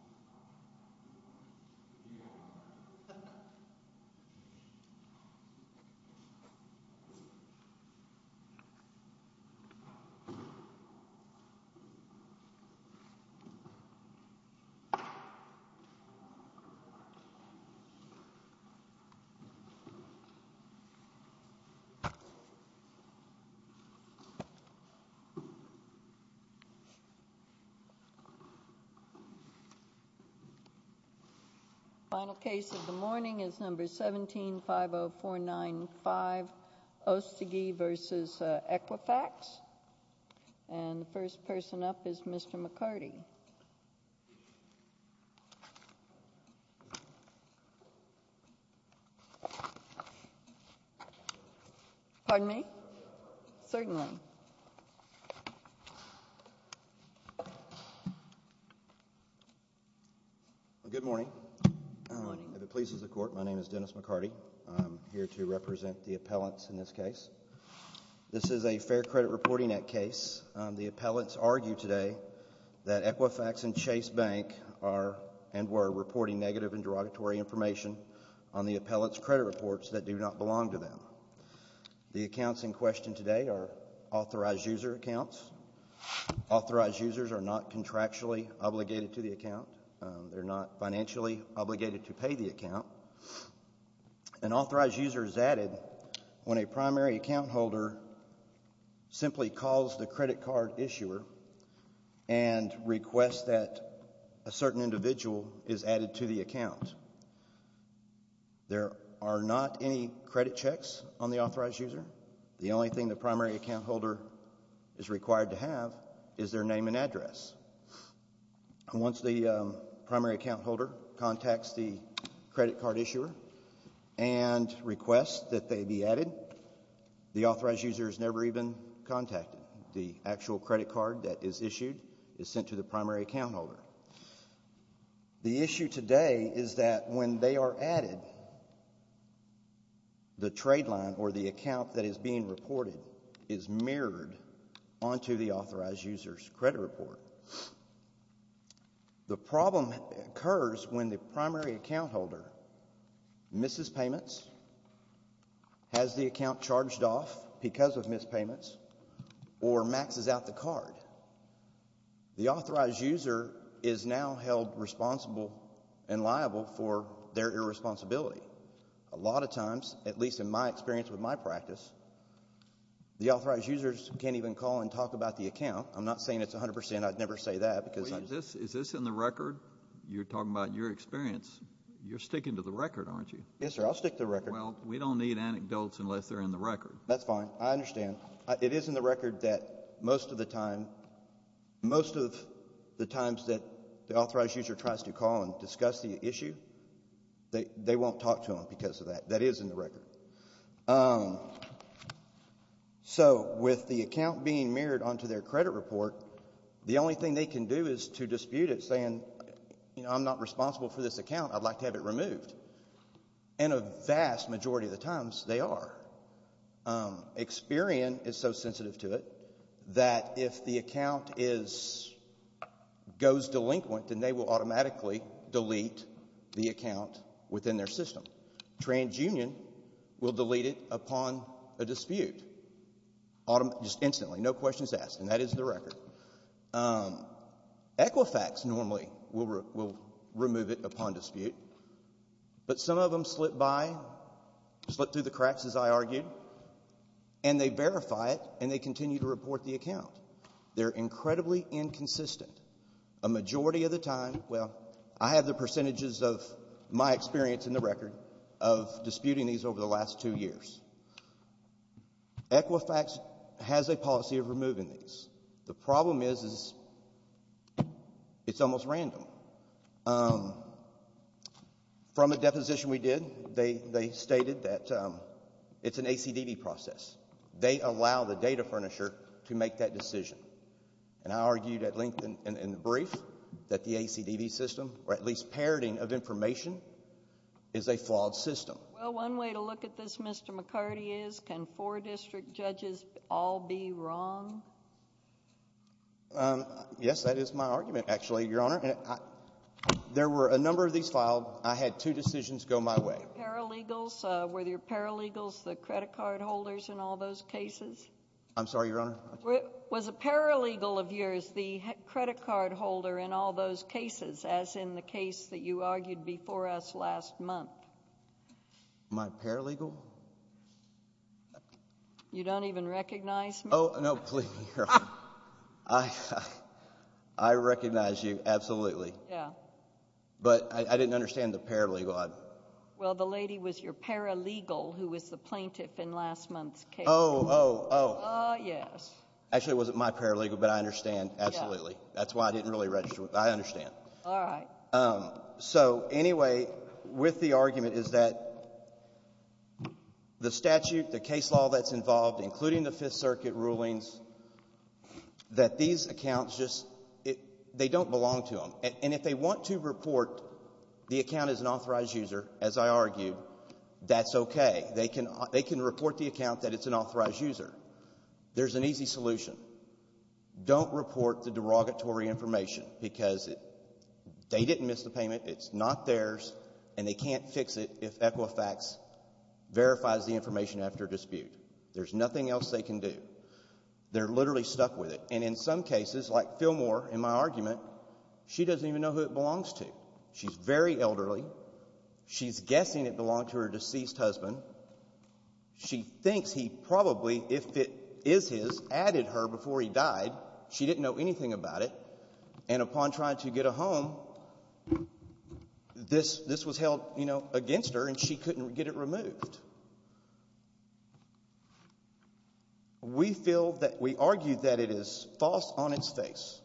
© 2015 University of Georgia College of Agricultural and Environmental Sciences UGA Extension Office of Communications and Creative Services Final case of the morning is number 1750495, Ostiguy v. Equifax. And the first person up is Mr. McCarty. Pardon me? Certainly. Good morning. If it pleases the Court, my name is Dennis McCarty. I'm here to represent the appellants in this case. This is a Fair Credit Reporting Act case. The appellants argue today that Equifax and Chase Bank are and were reporting negative and derogatory information on the appellants' credit reports that do not belong to them. The accounts in question today are authorized user accounts. Authorized users are not contractually obligated to the account. They're not financially obligated to pay the account. An authorized user is added when a primary account holder simply calls the credit card issuer and requests that a certain individual is added to the account. There are not any credit checks on the authorized user. The only thing the primary account holder is required to have is their name and address. Once the primary account holder contacts the credit card issuer and requests that they be added, the authorized user is never even contacted. The actual credit card that is issued is sent to the primary account holder. The issue today is that when they are added, the trade line or the account that is being reported is mirrored onto the authorized user's credit report. The problem occurs when the primary account holder misses payments, has the account charged off because of missed payments, or maxes out the card. The authorized user is now held responsible and liable for their irresponsibility. A lot of times, at least in my experience with my practice, the authorized users can't even call and talk about the account. I'm not saying it's 100%. I'd never say that. Is this in the record? You're talking about your experience. You're sticking to the record, aren't you? Yes, sir. I'll stick to the record. Well, we don't need anecdotes unless they're in the record. That's fine. I understand. It is in the record that most of the times that the authorized user tries to call and discuss the issue, they won't talk to them because of that. That is in the record. So with the account being mirrored onto their credit report, the only thing they can do is to dispute it, saying, I'm not responsible for this account. I'd like to have it removed. And a vast majority of the times, they are. Experian is so sensitive to it that if the account goes delinquent, then they will automatically delete the account within their system. TransUnion will delete it upon a dispute, just instantly, no questions asked. And that is the record. Equifax normally will remove it upon dispute. But some of them slip by, slip through the cracks, as I argued, and they verify it and they continue to report the account. They're incredibly inconsistent. A majority of the time, well, I have the percentages of my experience in the record of disputing these over the last two years. Equifax has a policy of removing these. The problem is it's almost random. From a deposition we did, they stated that it's an ACDD process. They allow the data furnisher to make that decision. And I argued at length in the brief that the ACDD system, or at least parroting of information, is a flawed system. Well, one way to look at this, Mr. McCarty, is can four district judges all be wrong? Yes, that is my argument, actually, Your Honor. There were a number of these filed. I had two decisions go my way. Paralegals, were your paralegals the credit card holders in all those cases? I'm sorry, Your Honor? Was a paralegal of yours the credit card holder in all those cases, as in the case that you argued before us last month? My paralegal? You don't even recognize me? Oh, no, please, Your Honor. I recognize you, absolutely. Yeah. But I didn't understand the paralegal. Well, the lady was your paralegal who was the plaintiff in last month's case. Oh, oh, oh. Ah, yes. Actually, it wasn't my paralegal, but I understand, absolutely. That's why I didn't really register. I understand. All right. So, anyway, with the argument is that the statute, the case law that's involved, including the Fifth Circuit rulings, that these accounts just, they don't belong to them. And if they want to report the account as an authorized user, as I argued, that's okay. They can report the account that it's an authorized user. There's an easy solution. Don't report the derogatory information because they didn't miss the payment. It's not theirs, and they can't fix it if Equifax verifies the information after dispute. There's nothing else they can do. They're literally stuck with it. And in some cases, like Phil Moore in my argument, she doesn't even know who it belongs to. She's very elderly. She's guessing it belonged to her deceased husband. She thinks he probably, if it is his, added her before he died. She didn't know anything about it. And upon trying to get a home, this was held, you know, against her, and she couldn't get it removed. We feel that we argue that it is false on its face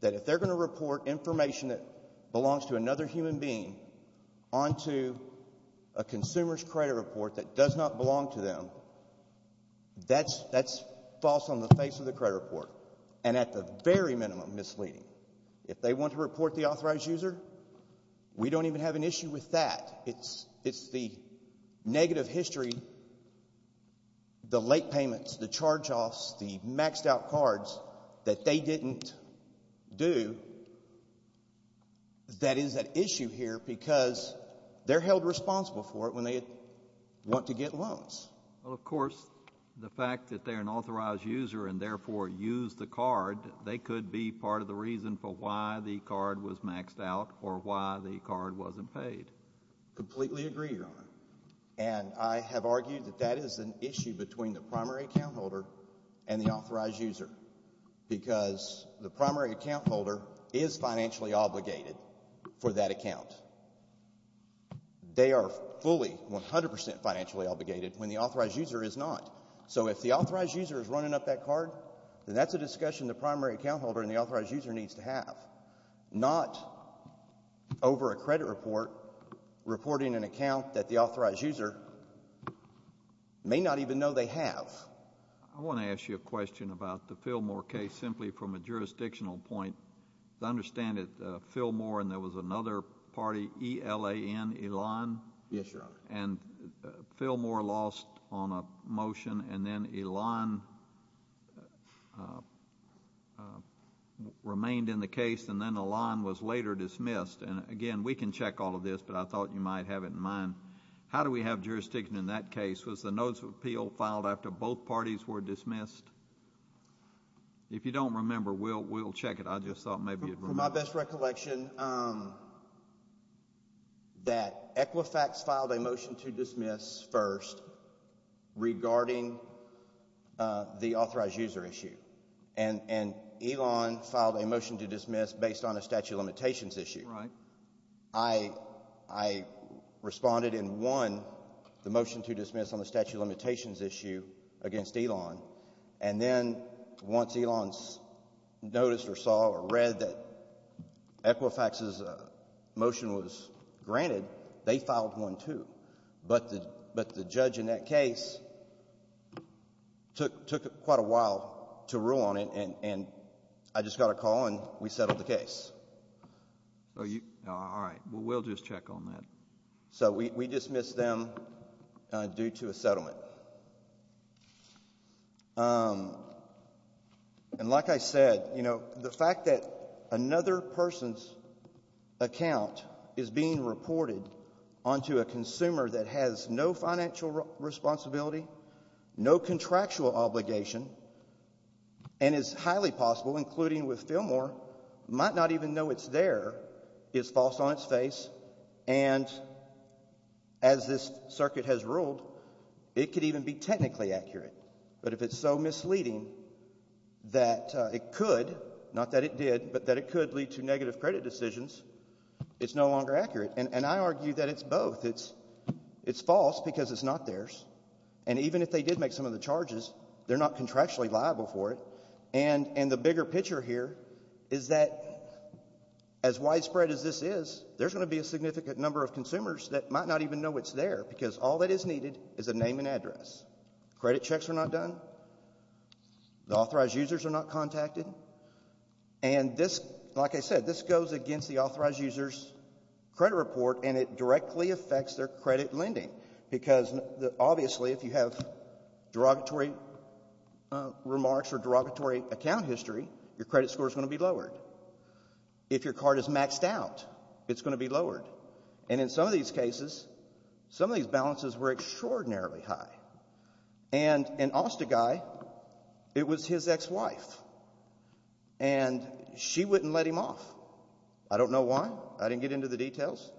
that if they're going to report information that belongs to another human being onto a consumer's credit report that does not belong to them, that's false on the face of the credit report and at the very minimum misleading. If they want to report the authorized user, we don't even have an issue with that. It's the negative history, the late payments, the charge-offs, the maxed-out cards that they didn't do that is at issue here because they're held responsible for it when they want to get loans. Well, of course, the fact that they're an authorized user and therefore used the card, they could be part of the reason for why the card was maxed out or why the card wasn't paid. Completely agree, Your Honor. And I have argued that that is an issue between the primary account holder and the authorized user because the primary account holder is financially obligated for that account. They are fully, 100 percent financially obligated when the authorized user is not. So if the authorized user is running up that card, then that's a discussion the primary account holder and the authorized user needs to have, not over a credit report reporting an account that the authorized user may not even know they have. Yes. I want to ask you a question about the Fillmore case simply from a jurisdictional point. As I understand it, Fillmore and there was another party, E-L-A-N, Elan. Yes, Your Honor. And Fillmore lost on a motion and then Elan remained in the case and then Elan was later dismissed. And again, we can check all of this, but I thought you might have it in mind. How do we have jurisdiction in that case? Was the notice of appeal filed after both parties were dismissed? If you don't remember, we'll check it. I just thought maybe you'd remember. From my best recollection, that Equifax filed a motion to dismiss first regarding the authorized user issue and Elan filed a motion to dismiss based on a statute of limitations issue. Right. I responded in one, the motion to dismiss on the statute of limitations issue against Elan. And then once Elan noticed or saw or read that Equifax's motion was granted, they filed one too. But the judge in that case took quite a while to rule on it and I just got a call and we settled the case. All right. We'll just check on that. So we dismissed them due to a settlement. And like I said, you know, the fact that another person's account is being reported onto a consumer that has no financial responsibility, no contractual obligation, and is highly possible, including with Fillmore, might not even know it's there is false on its face. And as this circuit has ruled, it could even be technically accurate. But if it's so misleading that it could, not that it did, but that it could lead to negative credit decisions, it's no longer accurate. And I argue that it's both. It's false because it's not theirs. And even if they did make some of the charges, they're not contractually liable for it. And the bigger picture here is that as widespread as this is, there's going to be a significant number of consumers that might not even know it's there because all that is needed is a name and address. Credit checks are not done. The authorized users are not contacted. And this, like I said, this goes against the authorized user's credit report and it directly affects their credit lending. Because obviously if you have derogatory remarks or derogatory account history, your credit score is going to be lowered. If your card is maxed out, it's going to be lowered. And in some of these cases, some of these balances were extraordinarily high. And an OSTA guy, it was his ex-wife. And she wouldn't let him off. I didn't get into the details.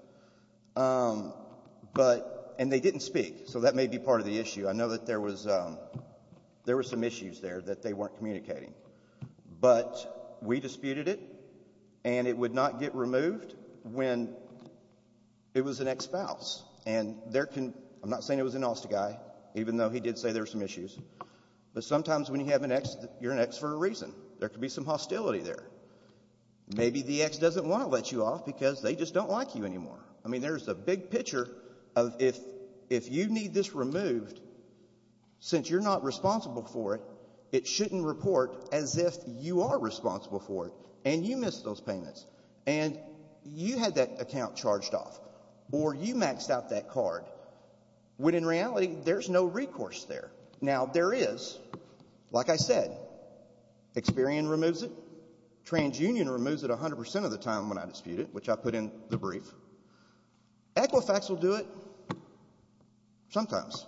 And they didn't speak, so that may be part of the issue. I know that there was some issues there that they weren't communicating. But we disputed it, and it would not get removed when it was an ex-spouse. And I'm not saying it was an OSTA guy, even though he did say there were some issues. But sometimes when you have an ex, you're an ex for a reason. There could be some hostility there. Maybe the ex doesn't want to let you off because they just don't like you anymore. I mean, there's a big picture of if you need this removed, since you're not responsible for it, it shouldn't report as if you are responsible for it and you missed those payments and you had that account charged off or you maxed out that card when in reality there's no recourse there. Now, there is, like I said. Experian removes it. TransUnion removes it 100% of the time when I dispute it, which I put in the brief. Equifax will do it sometimes.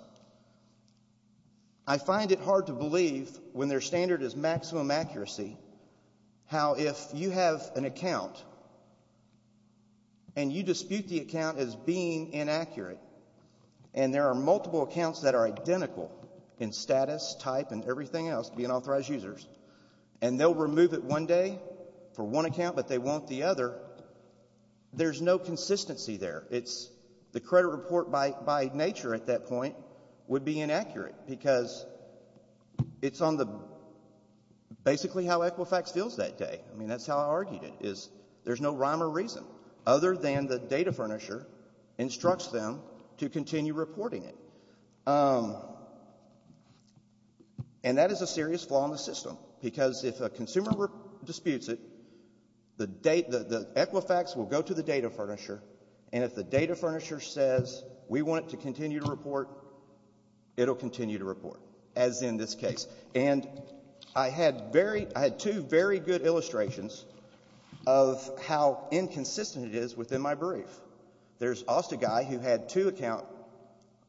I find it hard to believe when their standard is maximum accuracy how if you have an account and you dispute the account as being inaccurate and there are multiple accounts that are identical in status, type, and everything else, being authorized users, and they'll remove it one day for one account but they won't the other, there's no consistency there. The credit report by nature at that point would be inaccurate because it's basically how Equifax feels that day. I mean, that's how I argued it is there's no rhyme or reason other than the data furnisher instructs them to continue reporting it. And that is a serious flaw in the system because if a consumer disputes it, the Equifax will go to the data furnisher and if the data furnisher says we want it to continue to report, it'll continue to report, as in this case. And I had two very good illustrations of how inconsistent it is within my brief. There's also a guy who had two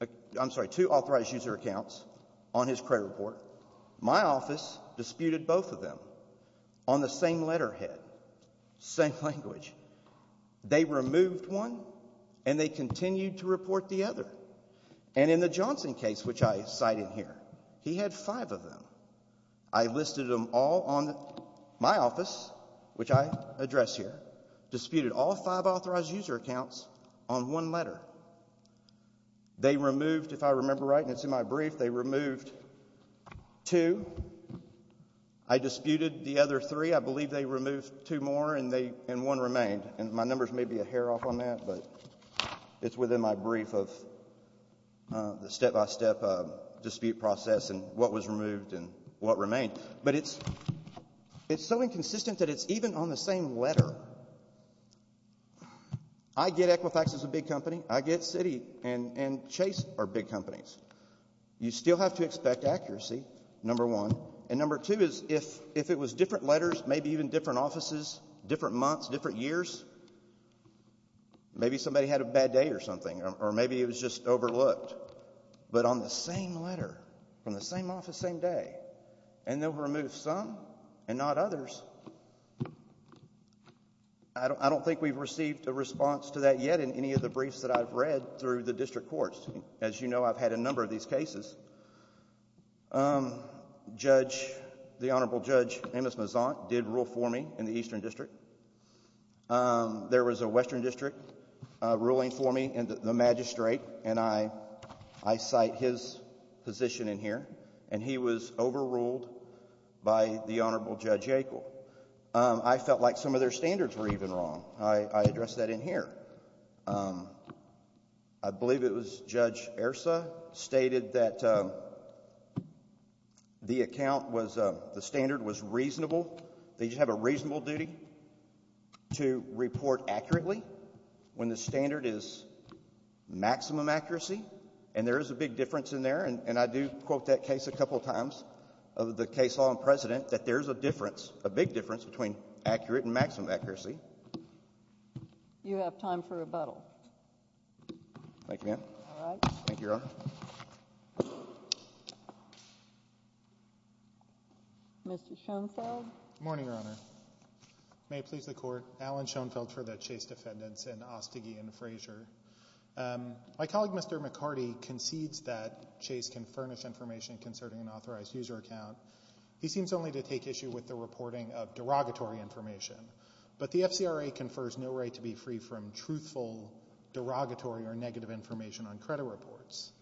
authorized user accounts on his credit report. My office disputed both of them on the same letterhead, same language. They removed one and they continued to report the other. And in the Johnson case, which I cite in here, he had five of them. I listed them all on my office, which I address here, disputed all five authorized user accounts on one letter. They removed, if I remember right, and it's in my brief, they removed two. I disputed the other three. I believe they removed two more and one remained. And my numbers may be a hair off on that, but it's within my brief of the step-by-step dispute process and what was removed and what remained. But it's so inconsistent that it's even on the same letter. I get Equifax is a big company. I get Citi and Chase are big companies. You still have to expect accuracy, number one. And number two is if it was different letters, maybe even different offices, different months, different years, maybe somebody had a bad day or something or maybe it was just overlooked, but on the same letter from the same office, same day, and they'll remove some and not others. I don't think we've received a response to that yet in any of the briefs that I've read through the district courts. As you know, I've had a number of these cases. The Honorable Judge Amos Mazant did rule for me in the Eastern District. There was a Western District ruling for me in the Magistrate, and I cite his position in here. And he was overruled by the Honorable Judge Yackel. I felt like some of their standards were even wrong. I address that in here. I believe it was Judge Ersa stated that the account was the standard was reasonable. They just have a reasonable duty to report accurately when the standard is maximum accuracy, and there is a big difference in there. And I do quote that case a couple of times of the case law in precedent that there's a difference, a big difference between accurate and maximum accuracy. You have time for rebuttal. Thank you, ma'am. All right. Thank you, Your Honor. Mr. Schoenfeld. Good morning, Your Honor. May it please the Court. Alan Schoenfeld for the Chase Defendants in Ostig and Frazier. My colleague, Mr. McCarty, concedes that Chase can furnish information concerning an authorized user account. He seems only to take issue with the reporting of derogatory information. But the FCRA confers no right to be free from truthful, derogatory, or negative information on credit reports.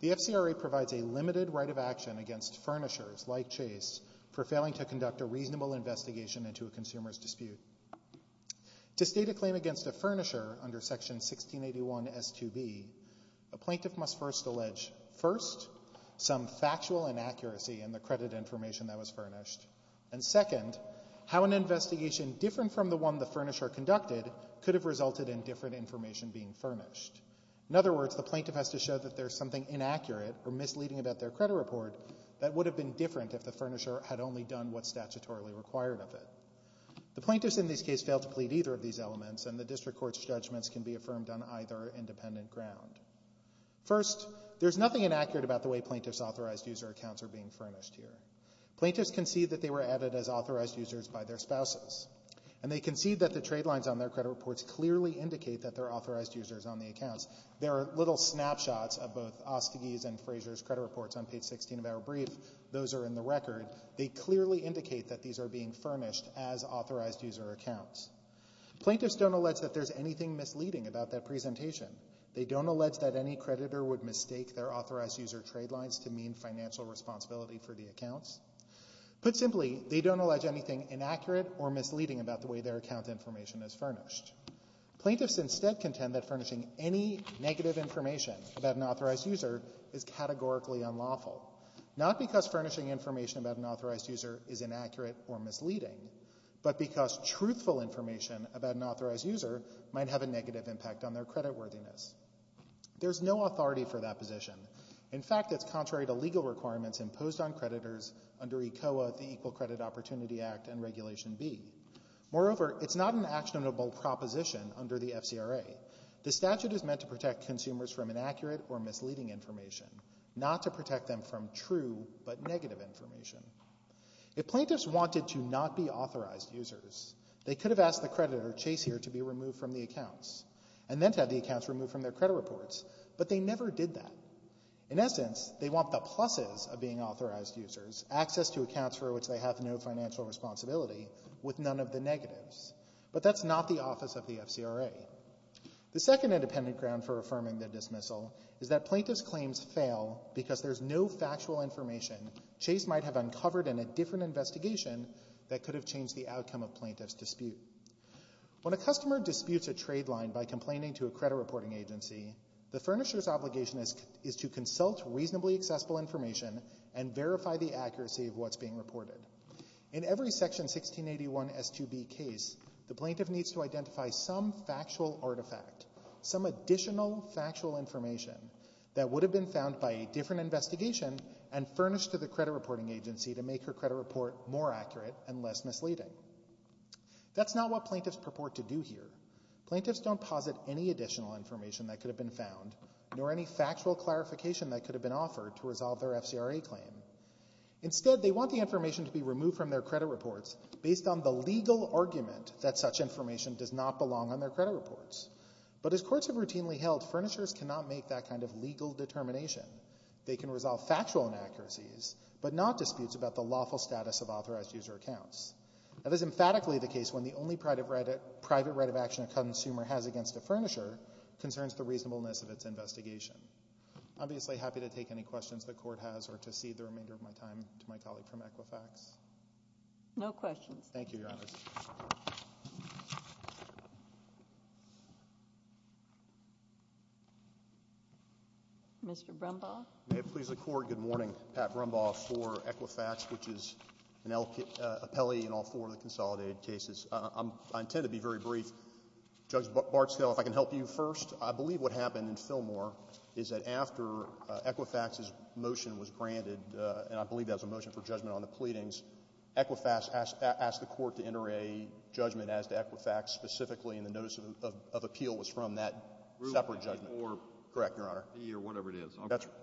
The FCRA provides a limited right of action against furnishers like Chase for failing to conduct a reasonable investigation into a consumer's dispute. To state a claim against a furnisher under Section 1681 S2B, a plaintiff must first allege, first, some factual inaccuracy in the credit information that was furnished, and second, how an investigation different from the one the furnisher conducted could have resulted in different information being furnished. In other words, the plaintiff has to show that there's something inaccurate or misleading about their credit report that would have been different if the furnisher had only done what's statutorily required of it. The plaintiffs in this case fail to plead either of these elements, and the district court's judgments can be affirmed on either independent ground. First, there's nothing inaccurate about the way plaintiffs' authorized user accounts are being furnished here. Plaintiffs concede that they were added as authorized users by their spouses, and they concede that the trade lines on their credit reports clearly indicate that they're authorized users on the accounts. There are little snapshots of both Ostegi's and Frazier's credit reports on page 16 of our brief. Those are in the record. They clearly indicate that these are being furnished as authorized user accounts. Plaintiffs don't allege that there's anything misleading about that presentation. They don't allege that any creditor would mistake their authorized user trade lines to mean financial responsibility for the accounts. Put simply, they don't allege anything inaccurate or misleading about the way their account information is furnished. Plaintiffs instead contend that furnishing any negative information about an authorized user is categorically unlawful, not because furnishing information about an authorized user is inaccurate or misleading, but because truthful information about an authorized user might have a negative impact on their creditworthiness. There's no authority for that position. In fact, it's contrary to legal requirements imposed on creditors under ECOA, the Equal Credit Opportunity Act, and Regulation B. Moreover, it's not an actionable proposition under the FCRA. The statute is meant to protect consumers from inaccurate or misleading information, not to protect them from true but negative information. If plaintiffs wanted to not be authorized users, they could have asked the creditor, Chase here, to be removed from the accounts and then to have the accounts removed from their credit reports. But they never did that. In essence, they want the pluses of being authorized users, access to accounts for which they have no financial responsibility, with none of the negatives. But that's not the office of the FCRA. The second independent ground for affirming the dismissal is that plaintiffs' claims fail because there's no factual information Chase might have uncovered in a different investigation that could have changed the outcome of plaintiffs' dispute. When a customer disputes a trade line by complaining to a credit reporting agency, the furnisher's obligation is to consult reasonably accessible information and verify the accuracy of what's being reported. In every Section 1681 S2B case, the plaintiff needs to identify some factual artifact, some additional factual information that would have been found by a different investigation and furnished to the credit reporting agency to make her credit report more accurate and less misleading. That's not what plaintiffs purport to do here. Plaintiffs don't posit any additional information that could have been found nor any factual clarification that could have been offered to resolve their FCRA claim. Instead, they want the information to be removed from their credit reports based on the legal argument that such information does not belong on their credit reports. But as courts have routinely held, furnishers cannot make that kind of legal determination. They can resolve factual inaccuracies but not disputes about the lawful status of authorized user accounts. That is emphatically the case when the only private right of action a consumer has against a furnisher concerns the reasonableness of its investigation. I'm obviously happy to take any questions the Court has or to cede the remainder of my time to my colleague from Equifax. No questions. Thank you, Your Honor. Mr. Brumbaugh. May it please the Court. Good morning. Pat Brumbaugh for Equifax, which is an appellee in all four of the consolidated cases. I intend to be very brief. Judge Bartskell, if I can help you first. I believe what happened in Fillmore is that after Equifax's motion was granted, and I believe that was a motion for judgment on the pleadings, Equifax asked the Court to enter a judgment as to Equifax specifically in the notice of appeal was from that separate judgment. Correct, Your Honor. Whatever it is.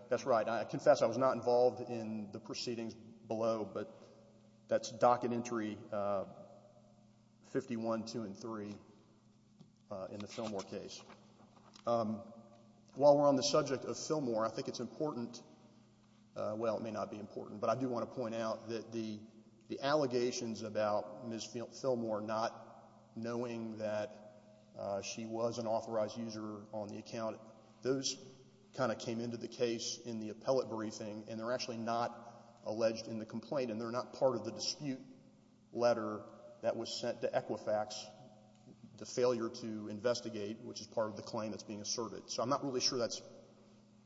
That's right. I confess I was not involved in the proceedings below, but that's docket entry 51, 2, and 3 in the Fillmore case. While we're on the subject of Fillmore, I think it's important. Well, it may not be important, but I do want to point out that the allegations about Ms. Fillmore not knowing that she was an authorized user on the account, those kind of came into the case in the appellate briefing, and they're actually not alleged in the complaint, and they're not part of the dispute letter that was sent to Equifax, the failure to investigate, which is part of the claim that's being asserted. So I'm not really sure that's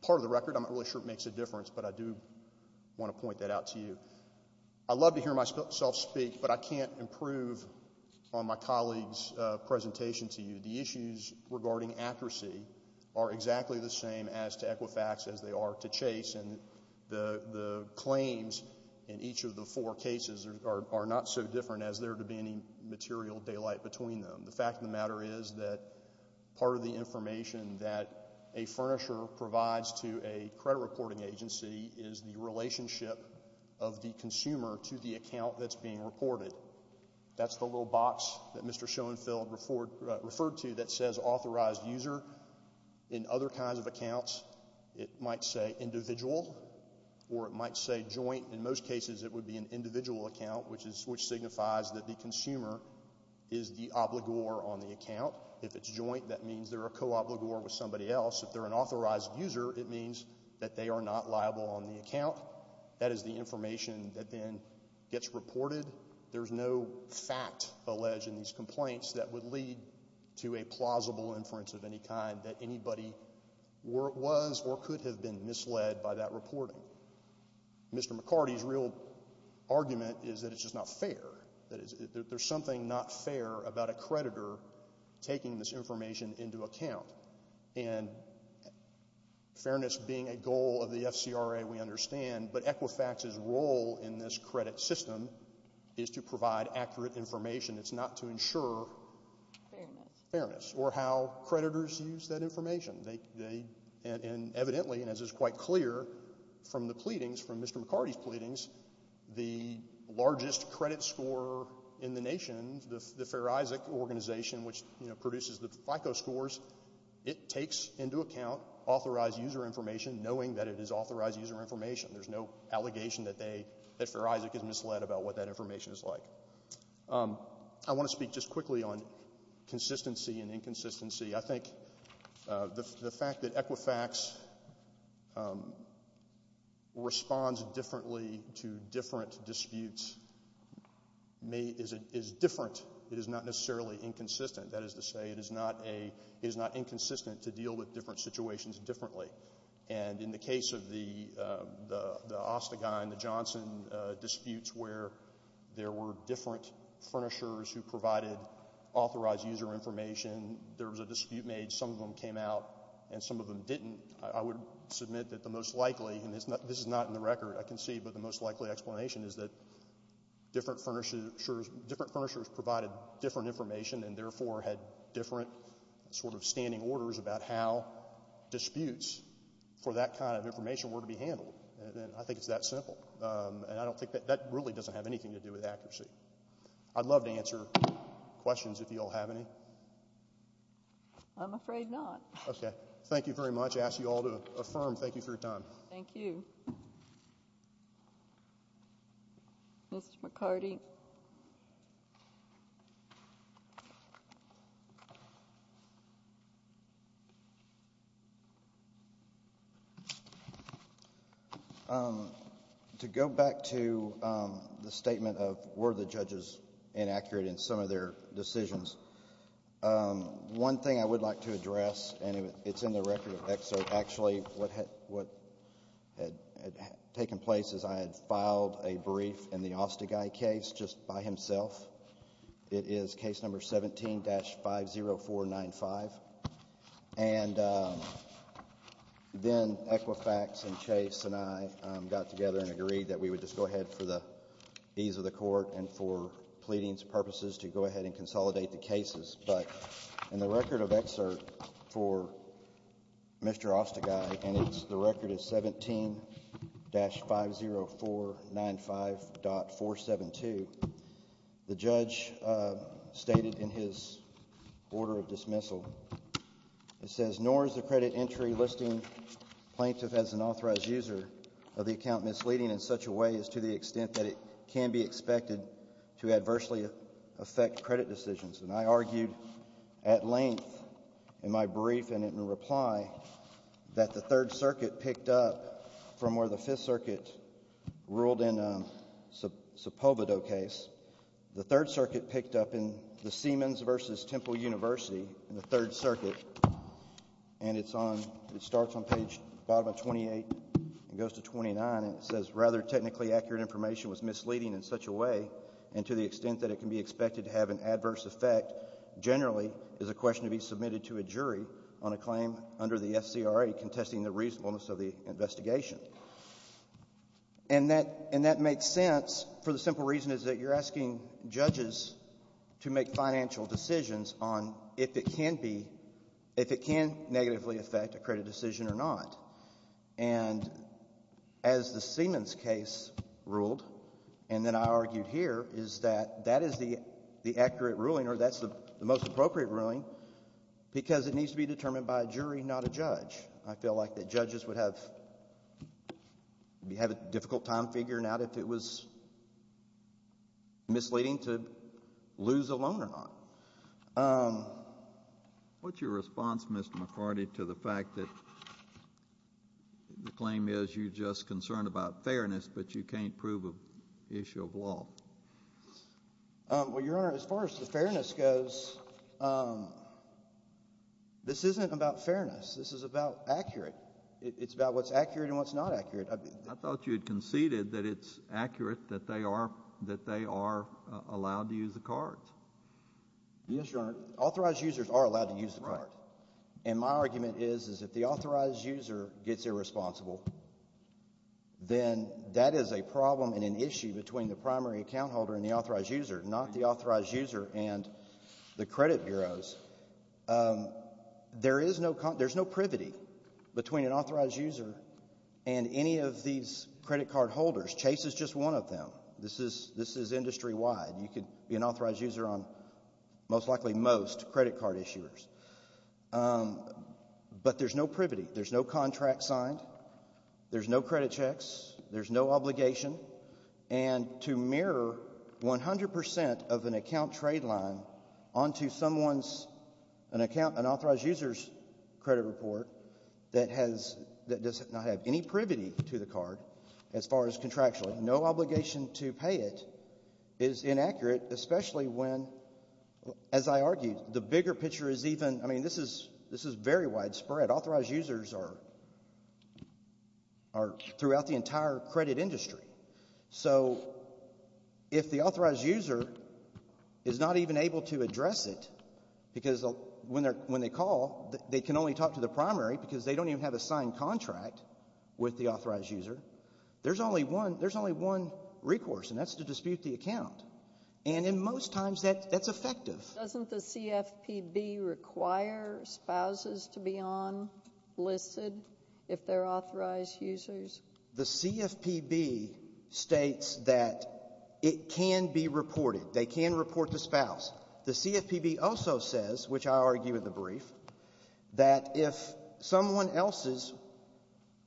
part of the record. I'm not really sure it makes a difference, but I do want to point that out to you. I love to hear myself speak, but I can't improve on my colleague's presentation to you. The issues regarding accuracy are exactly the same as to Equifax as they are to Chase, and the claims in each of the four cases are not so different as there to be any material daylight between them. The fact of the matter is that part of the information that a furnisher provides to a credit reporting agency is the relationship of the consumer to the account that's being reported. That's the little box that Mr. Schoenfeld referred to that says authorized user. In other kinds of accounts, it might say individual or it might say joint. In most cases, it would be an individual account, which signifies that the consumer is the obligor on the account. If it's joint, that means they're a co-obligor with somebody else. If they're an authorized user, it means that they are not liable on the account. That is the information that then gets reported. There's no fact alleged in these complaints that would lead to a plausible inference of any kind that anybody was or could have been misled by that reporting. Mr. McCarty's real argument is that it's just not fair. There's something not fair about a creditor taking this information into account. Fairness being a goal of the FCRA, we understand, but Equifax's role in this credit system is to provide accurate information. It's not to ensure fairness or how creditors use that information. Evidently, and as is quite clear from the pleadings, from Mr. McCarty's pleadings, the largest credit scorer in the nation, the Fair Isaac Organization, which produces the FICO scores, it takes into account authorized user information knowing that it is authorized user information. There's no allegation that Fair Isaac is misled about what that information is like. I want to speak just quickly on consistency and inconsistency. I think the fact that Equifax responds differently to different disputes is different. It is not necessarily inconsistent. That is to say, it is not inconsistent to deal with different situations differently. And in the case of the Ostegine-Johnson disputes where there were different furnishers who provided authorized user information, there was a dispute made. Some of them came out, and some of them didn't. I would submit that the most likely, and this is not in the record, I can see, but the most likely explanation is that different furnishers provided different information and therefore had different sort of standing orders about how disputes for that kind of information were to be handled. I think it's that simple. That really doesn't have anything to do with accuracy. I'd love to answer questions if you all have any. I'm afraid not. Thank you very much. I ask you all to affirm. Thank you for your time. Thank you. Thank you. Mr. McCarty. To go back to the statement of were the judges inaccurate in some of their decisions, one thing I would like to address, and it's in the record of excerpt, actually what had taken place is I had filed a brief in the Osteguy case just by himself. It is case number 17-50495. And then Equifax and Chase and I got together and agreed that we would just go ahead for the ease of the court and for pleadings purposes to go ahead and consolidate the cases. But in the record of excerpt for Mr. Osteguy, and the record is 17-50495.472, the judge stated in his order of dismissal, it says, nor is the credit entry listing plaintiff as an authorized user of the account misleading in such a way as to the extent that it can be expected to adversely affect credit decisions. And I argued at length in my brief and in reply that the Third Circuit picked up from where the Fifth Circuit ruled in Sepulveda case, the Third Circuit picked up in the Siemens v. Temple University in the Third Circuit, and it starts on page bottom of 28 and goes to 29, and it says rather technically accurate information was misleading in such a way and to the extent that it can be expected to have an adverse effect generally is a question to be submitted to a jury on a claim under the SCRA contesting the reasonableness of the investigation. And that makes sense for the simple reason is that you're asking judges to make financial decisions on if it can negatively affect a credit decision or not. And as the Siemens case ruled, and then I argued here, is that that is the accurate ruling or that's the most appropriate ruling because it needs to be determined by a jury, not a judge. I feel like the judges would have a difficult time figuring out if it was misleading to lose a loan or not. What's your response, Mr. McCarty, to the fact that the claim is you're just concerned about fairness but you can't prove an issue of law? Well, Your Honor, as far as the fairness goes, this isn't about fairness. This is about accurate. It's about what's accurate and what's not accurate. I thought you had conceded that it's accurate that they are allowed to use the card. Yes, Your Honor. Authorized users are allowed to use the card. And my argument is that if the authorized user gets irresponsible, then that is a problem and an issue between the primary account holder and the authorized user, not the authorized user and the credit bureaus. There's no privity between an authorized user and any of these credit card holders. Chase is just one of them. This is industry-wide. You could be an authorized user on most likely most credit card issuers. But there's no privity. There's no contract signed. There's no credit checks. There's no obligation. And to mirror 100% of an account trade line onto someone's account, an authorized user's credit report that does not have any privity to the card as far as contractual, no obligation to pay it is inaccurate, especially when, as I argued, the bigger picture is even, I mean, this is very widespread. Authorized users are throughout the entire credit industry. So if the authorized user is not even able to address it because when they call, they can only talk to the primary because they don't even have a signed contract with the authorized user, there's only one recourse, and that's to dispute the account. And in most times, that's effective. Doesn't the CFPB require spouses to be on listed if they're authorized users? The CFPB states that it can be reported. They can report the spouse. The CFPB also says, which I argue in the brief, that if someone else's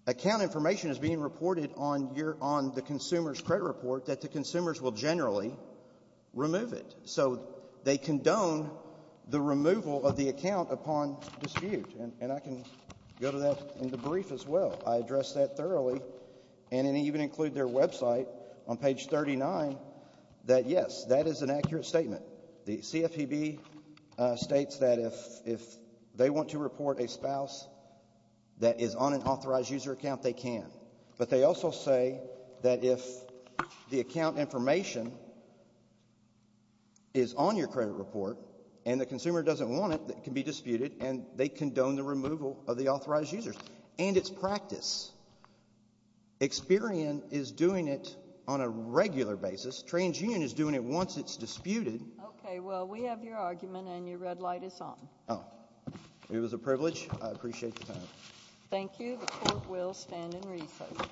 account information is being reported on the consumer's credit report, that the consumers will generally remove it. So they condone the removal of the account upon dispute. And I can go to that in the brief as well. I address that thoroughly and even include their website on page 39 that, yes, that is an accurate statement. The CFPB states that if they want to report a spouse that is on an authorized user account, they can. But they also say that if the account information is on your credit report and the consumer doesn't want it, it can be disputed, and they condone the removal of the authorized users. And it's practice. Experian is doing it on a regular basis. TransUnion is doing it once it's disputed. Okay, well, we have your argument, and your red light is on. Oh. It was a privilege. I appreciate the time. Thank you. The court will stand in recess.